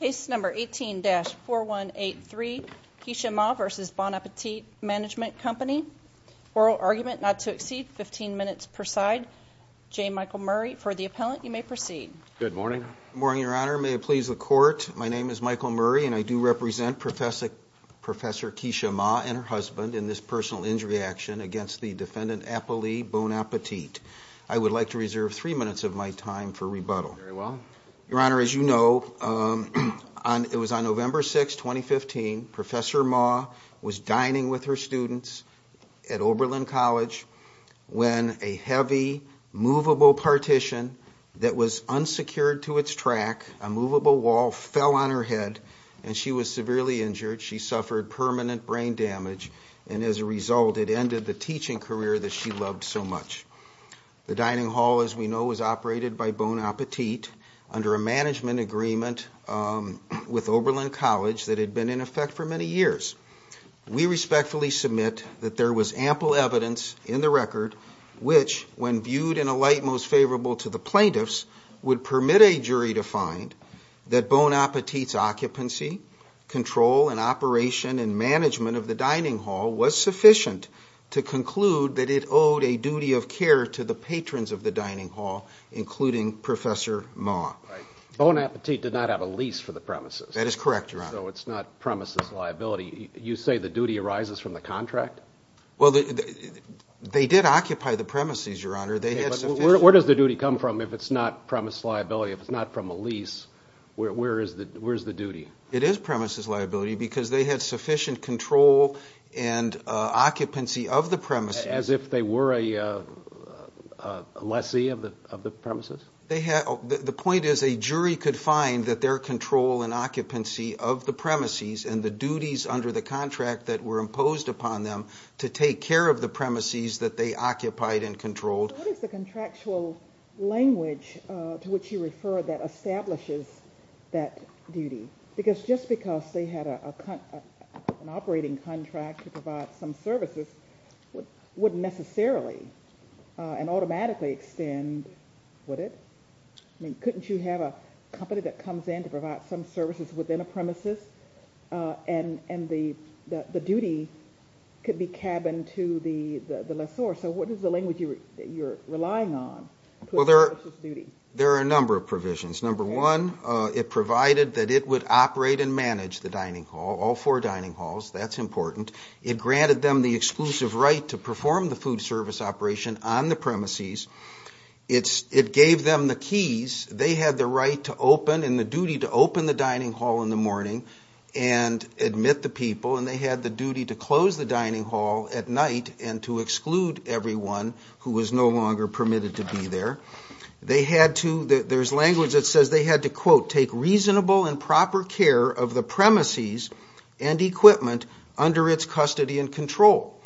Case number 18-4183, Keshia Ma v. Bon Appetit Management Company. Oral argument not to exceed 15 minutes per side. J. Michael Murray for the appellant. You may proceed. Good morning. Good morning, Your Honor. May it please the Court. My name is Michael Murray and I do represent Professor Keshia Ma and her husband in this personal injury action against the defendant, Apple Lee Bon Appetit. I would like to reserve three minutes of my time for rebuttal. Very well. Your Honor, as you know, it was on November 6, 2015, Professor Ma was dining with her students at Oberlin College when a heavy, movable partition that was unsecured to its track, a movable wall, fell on her head and she was severely injured. She suffered permanent brain damage and, as a result, it ended the teaching career that she loved so much. The dining hall, as we know, was operated by Bon Appetit under a management agreement with Oberlin College that had been in effect for many years. We respectfully submit that there was ample evidence in the record which, when viewed in a light most favorable to the plaintiffs, would permit a jury to find that Bon Appetit's occupancy, control, and operation and management of the dining hall was sufficient to conclude that it owed a duty of care to the patrons of the dining hall, including Professor Ma. Right. Bon Appetit did not have a lease for the premises. That is correct, Your Honor. So it's not premises liability. You say the duty arises from the contract? Well, they did occupy the premises, Your Honor. Where does the duty come from if it's not premise liability? If it's not from a lease, where is the duty? It is premises liability because they had sufficient control and occupancy of the premises. As if they were a lessee of the premises? The point is a jury could find that their control and occupancy of the premises and the duties under the contract that were imposed upon them to take care of the premises that they occupied and controlled. What is the contractual language to which you refer that establishes that duty? Because just because they had an operating contract to provide some services wouldn't necessarily and automatically extend, would it? Couldn't you have a company that comes in to provide some services within a premises and the duty could be cabined to the lessor? So what is the language you're relying on to establish this duty? There are a number of provisions. Number one, it provided that it would operate and manage the dining hall, all four dining halls, that's important. It granted them the exclusive right to perform the food service operation on the premises. It gave them the keys. They had the right to open and the duty to open the dining hall in the morning and admit the people, and they had the duty to close the dining hall at night and to exclude everyone who was no longer permitted to be there. There's language that says they had to, quote, take reasonable and proper care of the premises and equipment under its custody and control.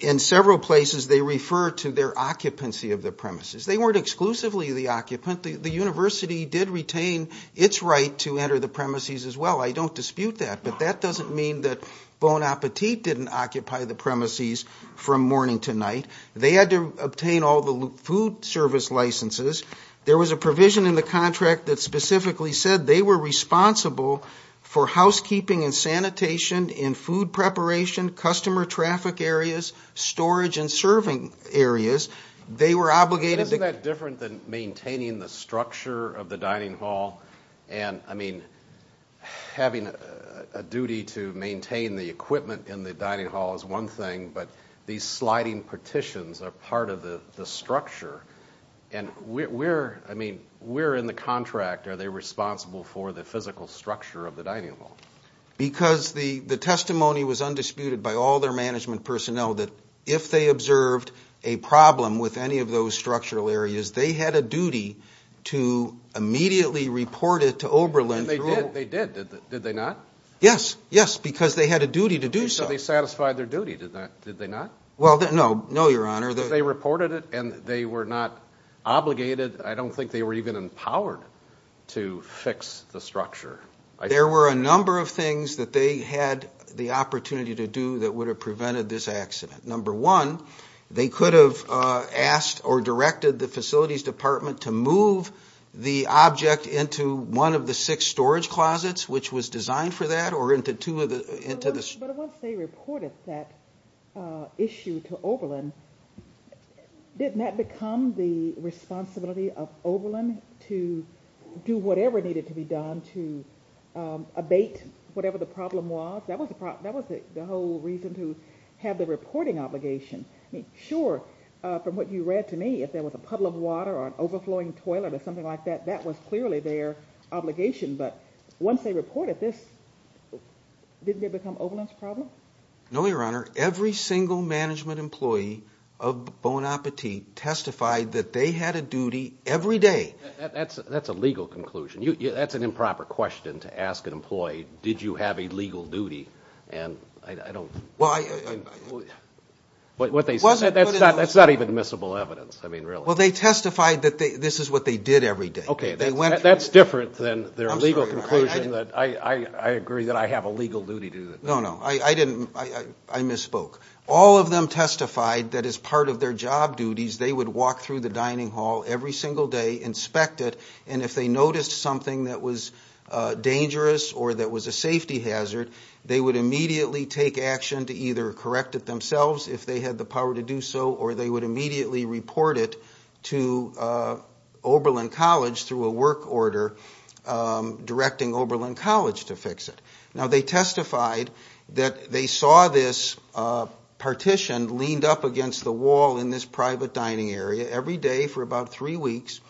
In several places they refer to their occupancy of the premises. They weren't exclusively the occupant. The university did retain its right to enter the premises as well. I don't dispute that, but that doesn't mean that Bon Appetit didn't occupy the premises from morning to night. They had to obtain all the food service licenses. There was a provision in the contract that specifically said they were responsible for housekeeping and sanitation in food preparation, customer traffic areas, storage and serving areas. They were obligated to- Isn't that different than maintaining the structure of the dining hall? And, I mean, having a duty to maintain the equipment in the dining hall is one thing, but these sliding partitions are part of the structure. And we're in the contract. Are they responsible for the physical structure of the dining hall? Because the testimony was undisputed by all their management personnel that if they observed a problem with any of those structural areas, they had a duty to immediately report it to Oberlin. They did, did they not? Yes, yes, because they had a duty to do so. So they satisfied their duty, did they not? Well, no, no, Your Honor. If they reported it and they were not obligated, I don't think they were even empowered to fix the structure. There were a number of things that they had the opportunity to do that would have prevented this accident. Number one, they could have asked or directed the facilities department to move the object into one of the six storage closets, which was designed for that, or into two of the- But once they reported that issue to Oberlin, didn't that become the responsibility of Oberlin to do whatever needed to be done to abate whatever the problem was? That was the whole reason to have the reporting obligation. Sure, from what you read to me, if there was a puddle of water or an overflowing toilet or something like that, that was clearly their obligation. But once they reported this, didn't it become Oberlin's problem? No, Your Honor. Every single management employee of Bon Appetit testified that they had a duty every day. That's a legal conclusion. That's an improper question to ask an employee, did you have a legal duty, and I don't- Well, I- That's not even admissible evidence, I mean, really. Well, they testified that this is what they did every day. Okay, that's different than their legal conclusion. I agree that I have a legal duty to do that. No, no, I misspoke. All of them testified that as part of their job duties they would walk through the dining hall every single day, inspect it, and if they noticed something that was dangerous or that was a safety hazard, they would immediately take action to either correct it themselves if they had the power to do so, or they would immediately report it to Oberlin College through a work order directing Oberlin College to fix it. Now, they testified that they saw this partition leaned up against the wall in this private dining area every day for about three weeks.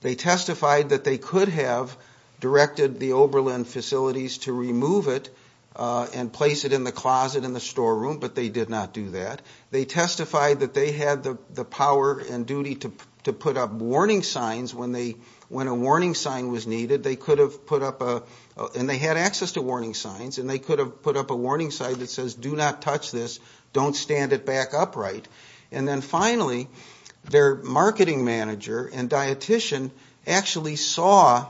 They testified that they could have directed the Oberlin facilities to remove it and place it in the closet in the storeroom, but they did not do that. They testified that they had the power and duty to put up warning signs when a warning sign was needed. They could have put up a... And they had access to warning signs, and they could have put up a warning sign that says, Do not touch this. Don't stand it back upright. And then finally, their marketing manager and dietician actually saw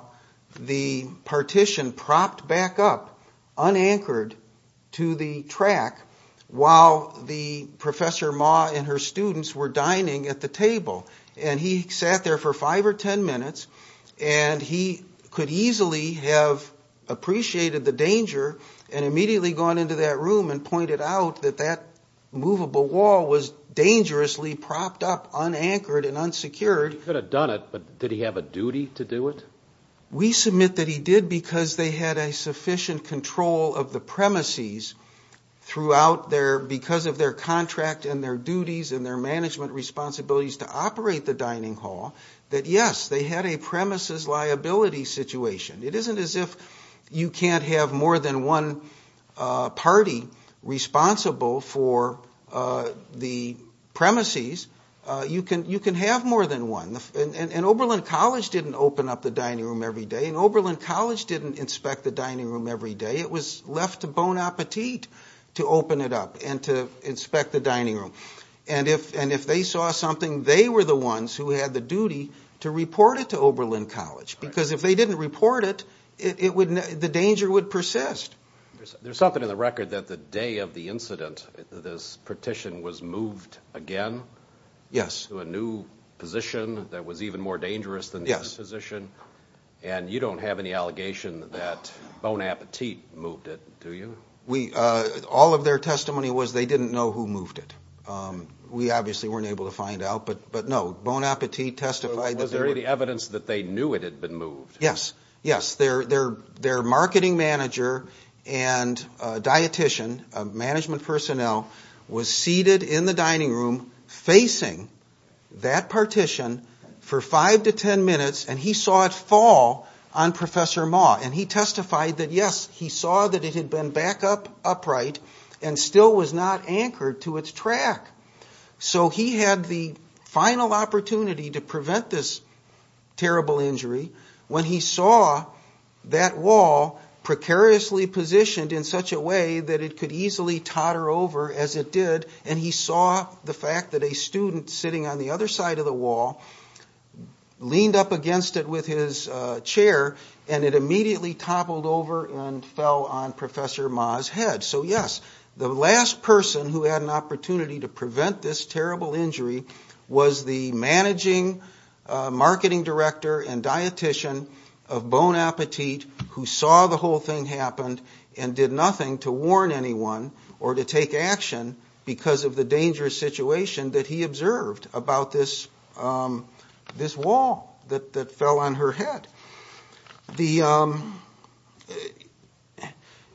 the partition propped back up, unanchored, to the track while the Professor Ma and her students were dining at the table. And he sat there for five or ten minutes, and he could easily have appreciated the danger and immediately gone into that room and pointed out that that movable wall was dangerously propped up, unanchored and unsecured. He could have done it, but did he have a duty to do it? We submit that he did because they had a sufficient control of the premises throughout their... Because of their contract and their duties and their management responsibilities to operate the dining hall, that yes, they had a premises liability situation. It isn't as if you can't have more than one party responsible for the premises. You can have more than one. And Oberlin College didn't open up the dining room every day, and Oberlin College didn't inspect the dining room every day. It was left to Bon Appetit to open it up and to inspect the dining room. And if they saw something, they were the ones who had the duty to report it to Oberlin College because if they didn't report it, the danger would persist. There's something in the record that the day of the incident, this partition was moved again to a new position that was even more dangerous than the other position, and you don't have any allegation that Bon Appetit moved it, do you? All of their testimony was they didn't know who moved it. We obviously weren't able to find out, but no, Bon Appetit testified that there were... So was there any evidence that they knew it had been moved? Yes, yes. Their marketing manager and dietician, management personnel, was seated in the dining room facing that partition for 5 to 10 minutes, and he saw it fall on Professor Ma. And he testified that, yes, he saw that it had been back upright and still was not anchored to its track. So he had the final opportunity to prevent this terrible injury when he saw that wall precariously positioned in such a way that it could easily totter over as it did, and he saw the fact that a student sitting on the other side of the wall leaned up against it with his chair, and it immediately toppled over and fell on Professor Ma's head. So, yes, the last person who had an opportunity to prevent this terrible injury was the managing marketing director and dietician of Bon Appetit who saw the whole thing happened and did nothing to warn anyone or to take action because of the dangerous situation that he observed about this wall that fell on her head.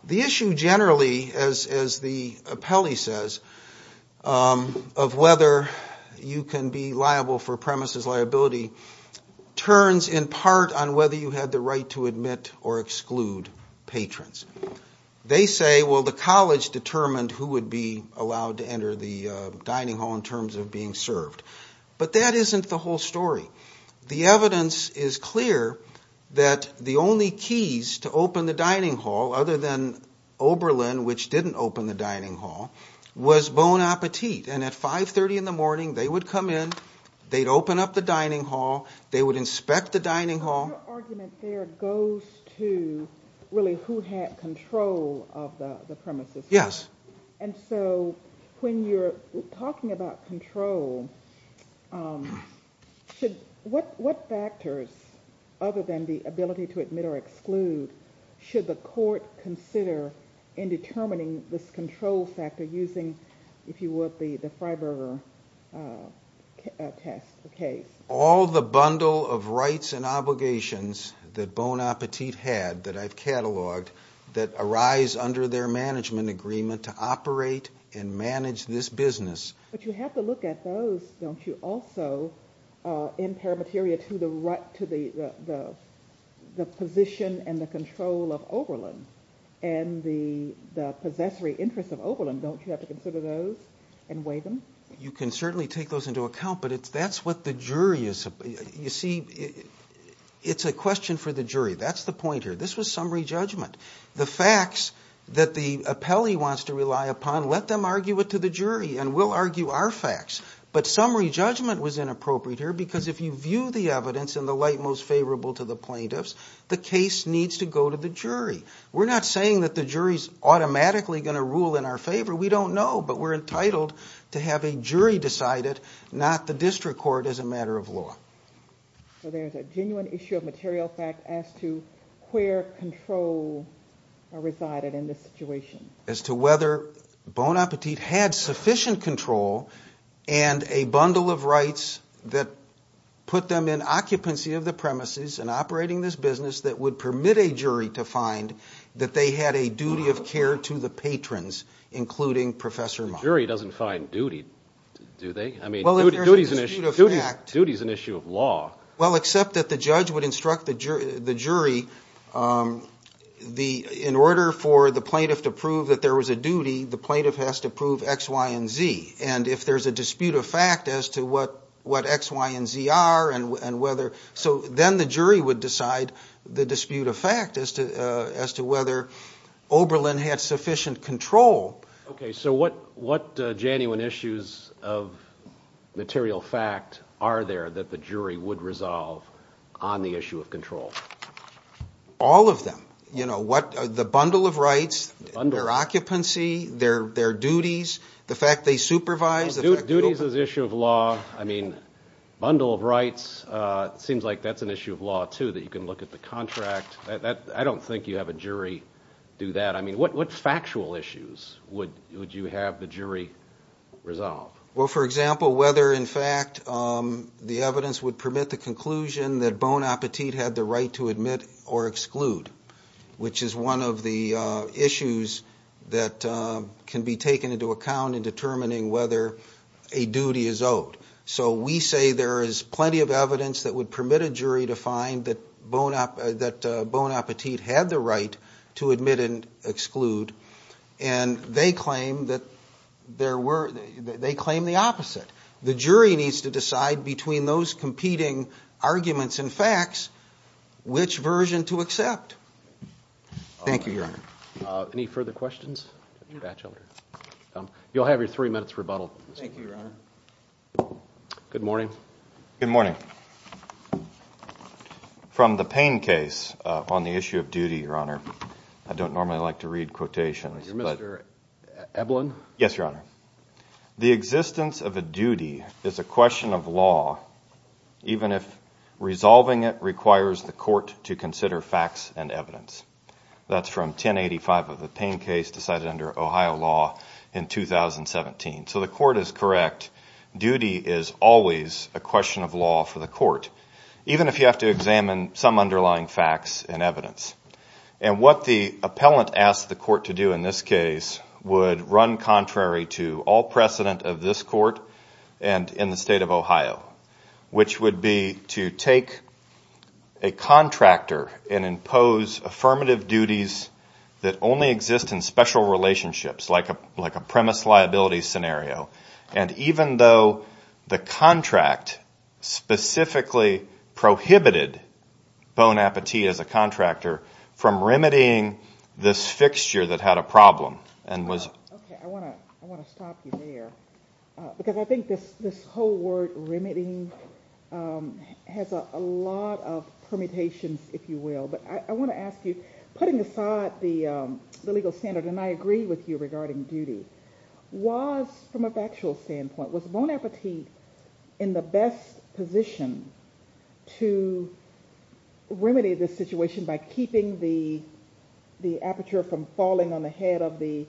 The issue generally, as the appellee says, of whether you can be liable for premises liability turns in part on whether you had the right to admit or exclude patrons. They say, well, the college determined who would be allowed to enter the dining hall in terms of being served. But that isn't the whole story. The evidence is clear that the only keys to open the dining hall, other than Oberlin, which didn't open the dining hall, was Bon Appetit. And at 5.30 in the morning, they would come in, they'd open up the dining hall, they would inspect the dining hall. Your argument there goes to really who had control of the premises. Yes. And so when you're talking about control, what factors, other than the ability to admit or exclude, should the court consider in determining this control factor using, if you would, the Freiberger test case? All the bundle of rights and obligations that Bon Appetit had, that I've cataloged, that arise under their management agreement to operate and manage this business. But you have to look at those, don't you, also, in paramateria to the position and the control of Oberlin and the possessory interest of Oberlin. Don't you have to consider those and weigh them? You can certainly take those into account, but that's what the jury is. You see, it's a question for the jury. That's the point here. This was summary judgment. The facts that the appellee wants to rely upon, let them argue it to the jury, and we'll argue our facts. But summary judgment was inappropriate here because if you view the evidence in the light most favorable to the plaintiffs, the case needs to go to the jury. We're not saying that the jury is automatically going to rule in our favor. We don't know, but we're entitled to have a jury decide it, not the district court as a matter of law. So there's a genuine issue of material fact as to where control resided in this situation. As to whether Bon Appetit had sufficient control and a bundle of rights that put them in occupancy of the premises and operating this business that would permit a jury to find that they had a duty of care to the patrons, including Professor Monk. The jury doesn't find duty, do they? Duty is an issue of law. Well, except that the judge would instruct the jury, in order for the plaintiff to prove that there was a duty, the plaintiff has to prove X, Y, and Z. And if there's a dispute of fact as to what X, Y, and Z are, then the jury would decide the dispute of fact as to whether Oberlin had sufficient control. Okay, so what genuine issues of material fact are there that the jury would resolve on the issue of control? All of them. The bundle of rights, their occupancy, their duties, the fact they supervise. Duties is an issue of law. I mean, bundle of rights seems like that's an issue of law, too, that you can look at the contract. I don't think you have a jury do that. I mean, what factual issues would you have the jury resolve? Well, for example, whether, in fact, the evidence would permit the conclusion that Bon Appetit had the right to admit or exclude, which is one of the issues that can be taken into account in determining whether a duty is owed. So we say there is plenty of evidence that would permit a jury to find that Bon Appetit had the right to admit and exclude, and they claim the opposite. The jury needs to decide between those competing arguments and facts which version to accept. Thank you, Your Honor. Any further questions? You'll have your three minutes rebuttal. Thank you, Your Honor. Good morning. Good morning. From the Payne case on the issue of duty, Your Honor, I don't normally like to read quotations. You're Mr. Eblen? Yes, Your Honor. The existence of a duty is a question of law, even if resolving it requires the court to consider facts and evidence. That's from 1085 of the Payne case decided under Ohio law in 2017. So the court is correct. Duty is always a question of law for the court, even if you have to examine some underlying facts and evidence. And what the appellant asked the court to do in this case would run contrary to all precedent of this court and in the state of Ohio, which would be to take a contractor and impose affirmative duties that only exist in special relationships, like a premise liability scenario, and even though the contract specifically prohibited Bon Appetit as a contractor from remedying this fixture that had a problem. I want to stop you there because I think this whole word, remedying, has a lot of permutations, if you will. But I want to ask you, putting aside the legal standard, and I agree with you regarding duty, was, from a factual standpoint, was Bon Appetit in the best position to remedy the situation by keeping the aperture from falling on the head of the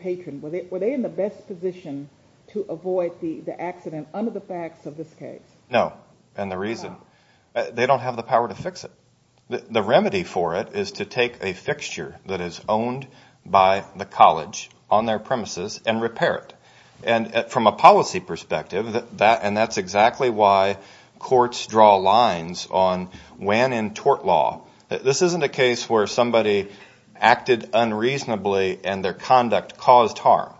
patron? Were they in the best position to avoid the accident under the facts of this case? No, and the reason? They don't have the power to fix it. The remedy for it is to take a fixture that is owned by the college on their premises and repair it, and from a policy perspective, and that's exactly why courts draw lines on when in tort law. This isn't a case where somebody acted unreasonably and their conduct caused harm.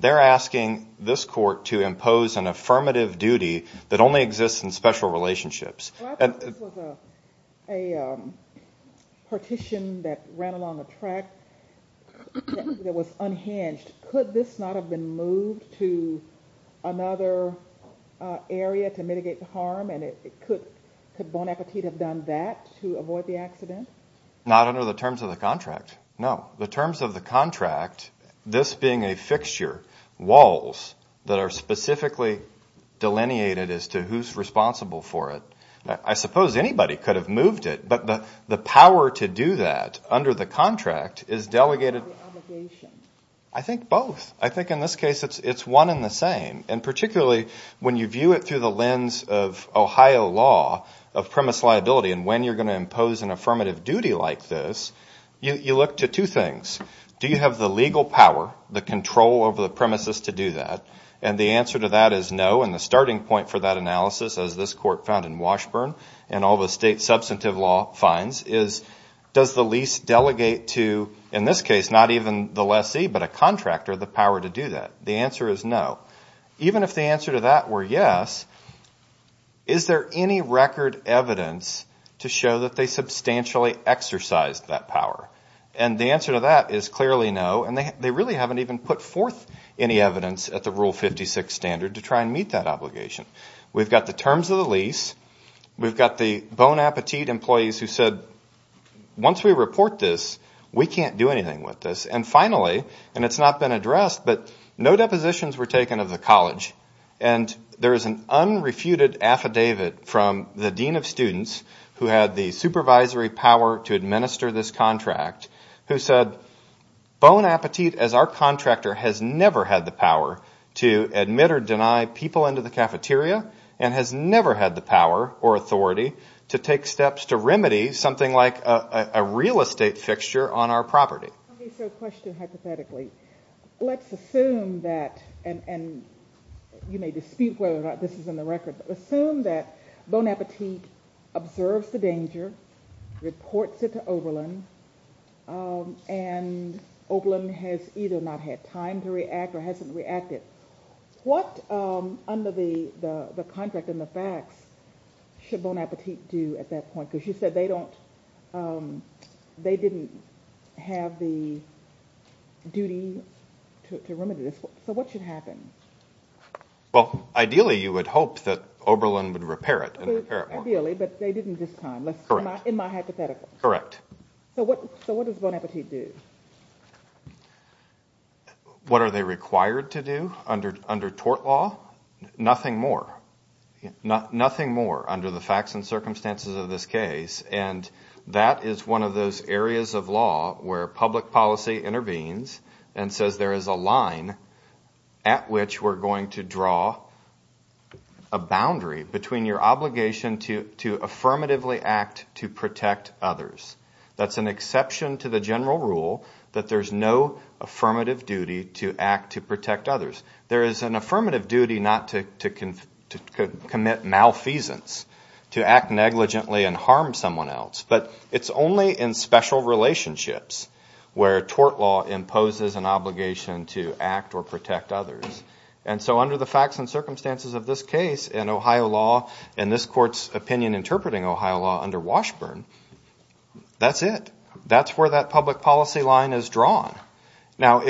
They're asking this court to impose an affirmative duty that only exists in special relationships. Well, I thought this was a partition that ran along a track that was unhinged. Could this not have been moved to another area to mitigate the harm, and could Bon Appetit have done that to avoid the accident? Not under the terms of the contract, no. The terms of the contract, this being a fixture, that are specifically delineated as to who's responsible for it. I suppose anybody could have moved it, but the power to do that under the contract is delegated. What about the obligation? I think both. I think in this case it's one and the same, and particularly when you view it through the lens of Ohio law of premise liability and when you're going to impose an affirmative duty like this, you look to two things. Do you have the legal power, the control over the premises to do that? And the answer to that is no, and the starting point for that analysis, as this court found in Washburn and all the state substantive law finds, is does the lease delegate to, in this case, not even the lessee, but a contractor the power to do that? The answer is no. Even if the answer to that were yes, is there any record evidence to show that they substantially exercised that power? And the answer to that is clearly no, and they really haven't even put forth any evidence at the Rule 56 standard to try and meet that obligation. We've got the terms of the lease. We've got the Bon Appetit employees who said, once we report this, we can't do anything with this. And finally, and it's not been addressed, but no depositions were taken of the college, and there is an unrefuted affidavit from the dean of students who had the supervisory power to administer this contract, who said Bon Appetit, as our contractor, has never had the power to admit or deny people into the cafeteria and has never had the power or authority to take steps to remedy something like a real estate fixture on our property. Okay, so a question hypothetically. Let's assume that, and you may dispute whether or not this is in the record, but assume that Bon Appetit observes the danger, reports it to Oberlin, and Oberlin has either not had time to react or hasn't reacted. What, under the contract and the facts, should Bon Appetit do at that point? Because you said they didn't have the duty to remedy this. So what should happen? Well, ideally you would hope that Oberlin would repair it and repair it more. Ideally, but they didn't this time, in my hypothetical. Correct. So what does Bon Appetit do? What are they required to do under tort law? Nothing more. Nothing more under the facts and circumstances of this case, and that is one of those areas of law where public policy intervenes and says there is a line at which we're going to draw a boundary between your obligation to affirmatively act to protect others. That's an exception to the general rule that there's no affirmative duty to act to protect others. There is an affirmative duty not to commit malfeasance, to act negligently and harm someone else, but it's only in special relationships where tort law imposes an obligation to act or protect others. And so under the facts and circumstances of this case in Ohio law, in this Court's opinion interpreting Ohio law under Washburn, that's it. That's where that public policy line is drawn. Now,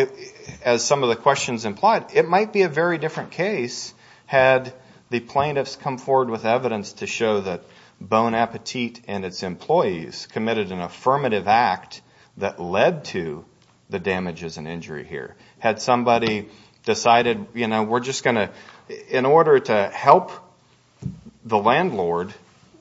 as some of the questions implied, it might be a very different case had the plaintiffs come forward with evidence to show that Bon Appetit and its employees committed an affirmative act that led to the damages and injury here. Had somebody decided, you know, we're just going to, in order to help the landlord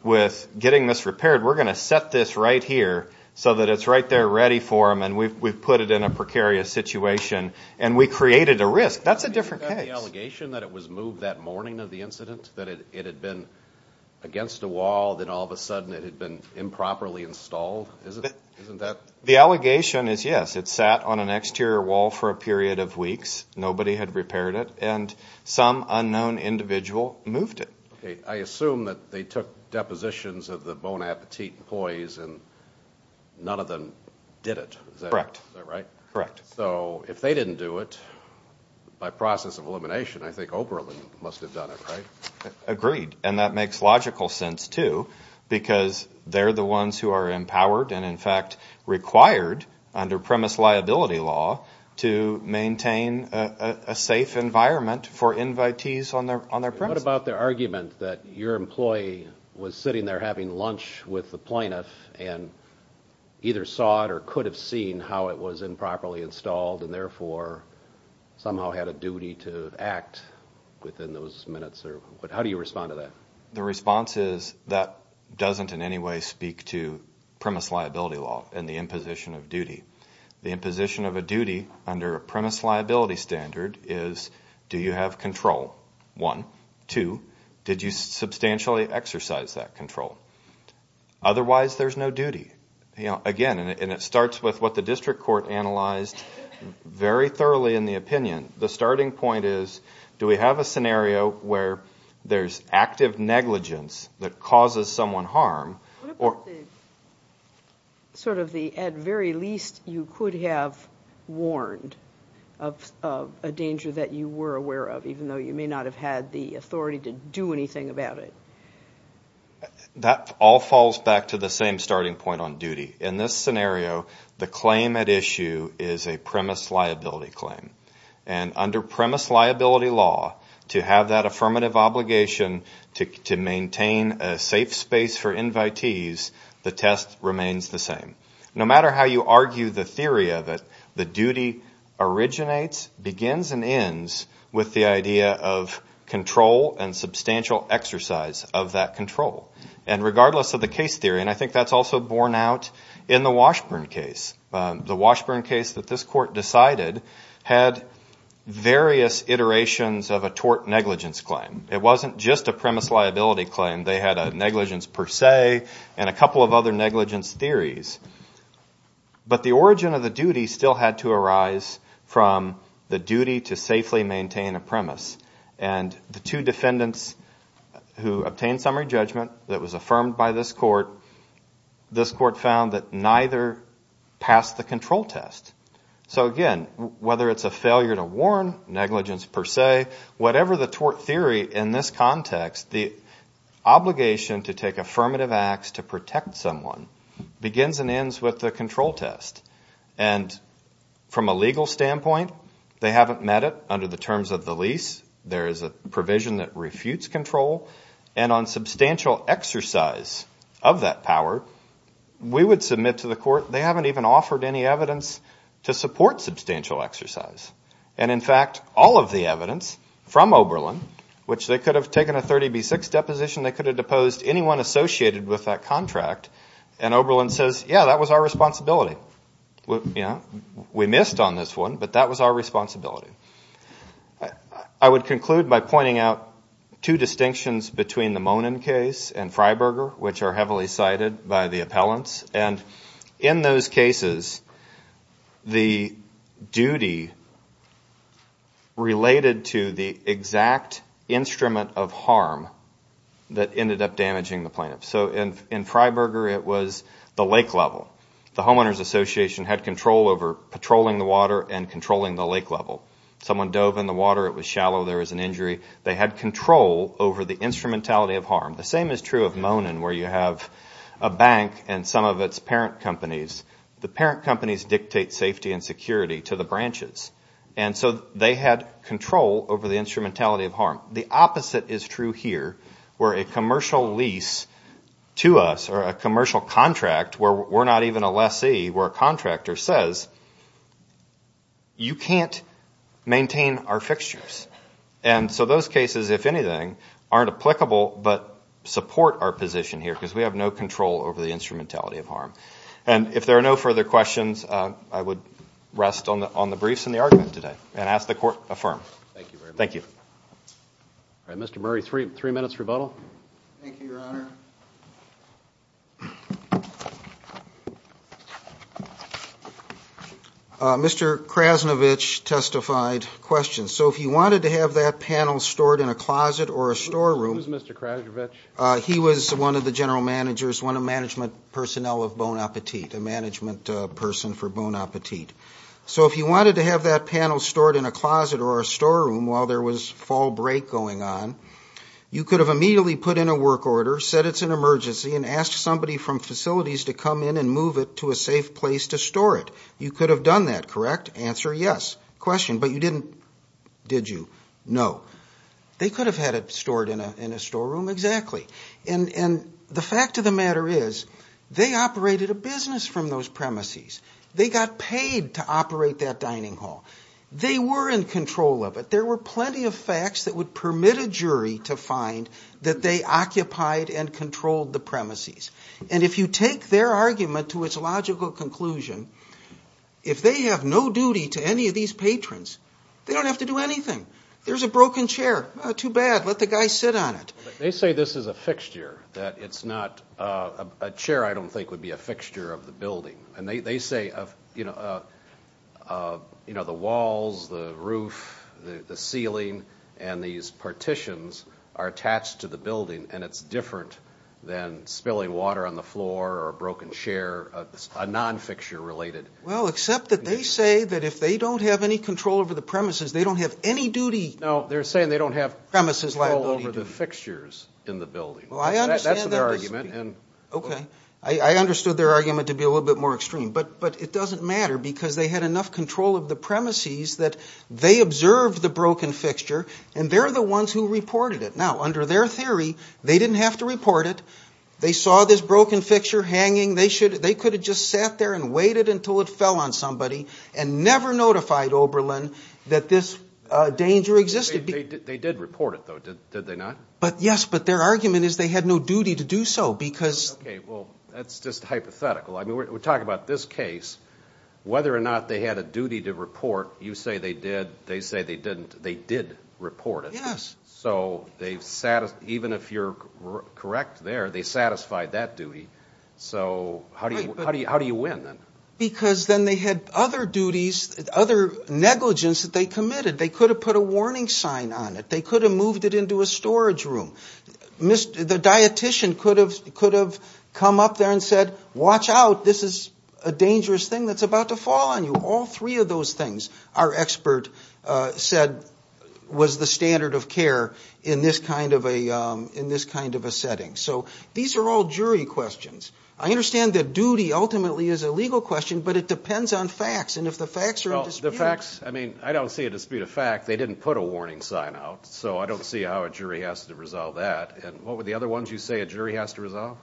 with getting this repaired, we're going to set this right here so that it's right there ready for them and we've put it in a precarious situation and we created a risk. That's a different case. The allegation that it was moved that morning of the incident, that it had been against a wall, then all of a sudden it had been improperly installed, isn't that? The allegation is, yes, it sat on an exterior wall for a period of weeks. Nobody had repaired it. And some unknown individual moved it. Okay. I assume that they took depositions of the Bon Appetit employees and none of them did it. Is that right? Correct. So if they didn't do it, by process of elimination, I think Oberlin must have done it, right? Agreed. And that makes logical sense, too, because they're the ones who are empowered and, in fact, required under premise liability law to maintain a safe environment for invitees on their premises. What about the argument that your employee was sitting there having lunch with the plaintiff and either saw it or could have seen how it was How do you respond to that? The response is that doesn't in any way speak to premise liability law and the imposition of duty. The imposition of a duty under a premise liability standard is, do you have control? One. Two, did you substantially exercise that control? Otherwise, there's no duty. Again, and it starts with what the district court analyzed very thoroughly in the opinion. The starting point is, do we have a scenario where there's active negligence that causes someone harm? What about the sort of the at very least you could have warned of a danger that you were aware of, even though you may not have had the authority to do anything about it? That all falls back to the same starting point on duty. In this scenario, the claim at issue is a premise liability claim. And under premise liability law, to have that affirmative obligation to maintain a safe space for invitees, the test remains the same. No matter how you argue the theory of it, the duty originates, begins, and ends with the idea of control and substantial exercise of that control. And regardless of the case theory, and I think that's also borne out in the Washburn case. The Washburn case that this court decided had various iterations of a tort negligence claim. It wasn't just a premise liability claim. They had a negligence per se and a couple of other negligence theories. But the origin of the duty still had to arise from the duty to safely maintain a premise. And the two defendants who obtained summary judgment that was affirmed by this court, this court found that neither passed the control test. So again, whether it's a failure to warn, negligence per se, whatever the tort theory in this context, the obligation to take affirmative acts to protect someone begins and ends with the control test. And from a legal standpoint, they haven't met it under the terms of the lease. There is a provision that refutes control. And on substantial exercise of that power, we would submit to the court, they haven't even offered any evidence to support substantial exercise. And in fact, all of the evidence from Oberlin, which they could have taken a 30B6 deposition, they could have deposed anyone associated with that contract, and Oberlin says, yeah, that was our responsibility. We missed on this one, but that was our responsibility. I would conclude by pointing out two distinctions between the Monin case and Freiberger, which are heavily cited by the appellants. And in those cases, the duty related to the exact instrument of harm that ended up damaging the plaintiff. So in Freiberger, it was the lake level. The Homeowners Association had control over patrolling the water and controlling the lake level. Someone dove in the water, it was shallow, there was an injury. They had control over the instrumentality of harm. The same is true of Monin, where you have a bank and some of its parent companies. The parent companies dictate safety and security to the branches. And so they had control over the instrumentality of harm. The opposite is true here, where a commercial lease to us, or a commercial contract, where we're not even a lessee, where a contractor says, you can't maintain our fixtures. And so those cases, if anything, aren't applicable, but support our position here because we have no control over the instrumentality of harm. And if there are no further questions, I would rest on the briefs and the argument today and ask the Court to affirm. Thank you very much. Thank you. All right, Mr. Murray, three minutes rebuttal. Thank you, Your Honor. Mr. Krasnovich testified questions. So if you wanted to have that panel stored in a closet or a storeroom. Who's Mr. Krasnovich? He was one of the general managers, one of the management personnel of Bon Appetit, a management person for Bon Appetit. So if you wanted to have that panel stored in a closet or a storeroom while there was fall break going on, you could have immediately put in a work order, said it's an emergency, and asked somebody from facilities to come in and move it to a safe place to store it. You could have done that, correct? Answer, yes. Question, but you didn't, did you? No. They could have had it stored in a storeroom. Exactly. And the fact of the matter is they operated a business from those premises. They got paid to operate that dining hall. They were in control of it. There were plenty of facts that would permit a jury to find that they occupied and controlled the premises. And if you take their argument to its logical conclusion, if they have no duty to any of these patrons, they don't have to do anything. There's a broken chair. Too bad. Let the guy sit on it. They say this is a fixture, that it's not a chair I don't think would be a fixture of the building. And they say, you know, the walls, the roof, the ceiling, and these partitions are attached to the building, and it's different than spilling water on the floor or a broken chair, a non-fixture related. Well, except that they say that if they don't have any control over the premises, they don't have any duty. No, they're saying they don't have premises liability. Control over the fixtures in the building. That's their argument. Okay. I understood their argument to be a little bit more extreme. But it doesn't matter because they had enough control of the premises that they observed the broken fixture, and they're the ones who reported it. Now, under their theory, they didn't have to report it. They saw this broken fixture hanging. They could have just sat there and waited until it fell on somebody and never notified Oberlin that this danger existed. They did report it, though, did they not? Yes, but their argument is they had no duty to do so. Okay, well, that's just hypothetical. I mean, we're talking about this case. Whether or not they had a duty to report, you say they did, they say they didn't, they did report it. Yes. So even if you're correct there, they satisfied that duty. So how do you win then? Because then they had other duties, other negligence that they committed. They could have put a warning sign on it. They could have moved it into a storage room. The dietician could have come up there and said, watch out, this is a dangerous thing that's about to fall on you. All three of those things, our expert said, was the standard of care in this kind of a setting. So these are all jury questions. I understand that duty ultimately is a legal question, but it depends on facts, and if the facts are in dispute. Well, the facts, I mean, I don't see a dispute of fact. They didn't put a warning sign out, so I don't see how a jury has to resolve that. And what were the other ones you say a jury has to resolve?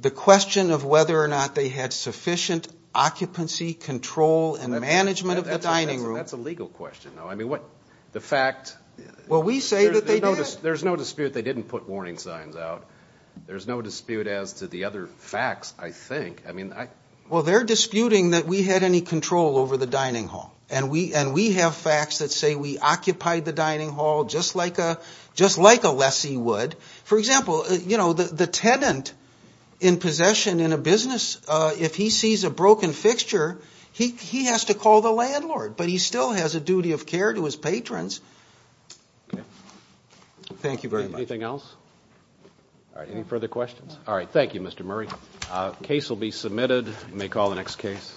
The question of whether or not they had sufficient occupancy, control, and management of the dining room. That's a legal question, though. I mean, the fact. Well, we say that they did. There's no dispute they didn't put warning signs out. There's no dispute as to the other facts, I think. Well, they're disputing that we had any control over the dining hall, and we have facts that say we occupied the dining hall just like a lessee would. For example, you know, the tenant in possession in a business, if he sees a broken fixture, he has to call the landlord, but he still has a duty of care to his patrons. Okay. Thank you very much. Anything else? All right, any further questions? All right, thank you, Mr. Murray. Case will be submitted. You may call the next case.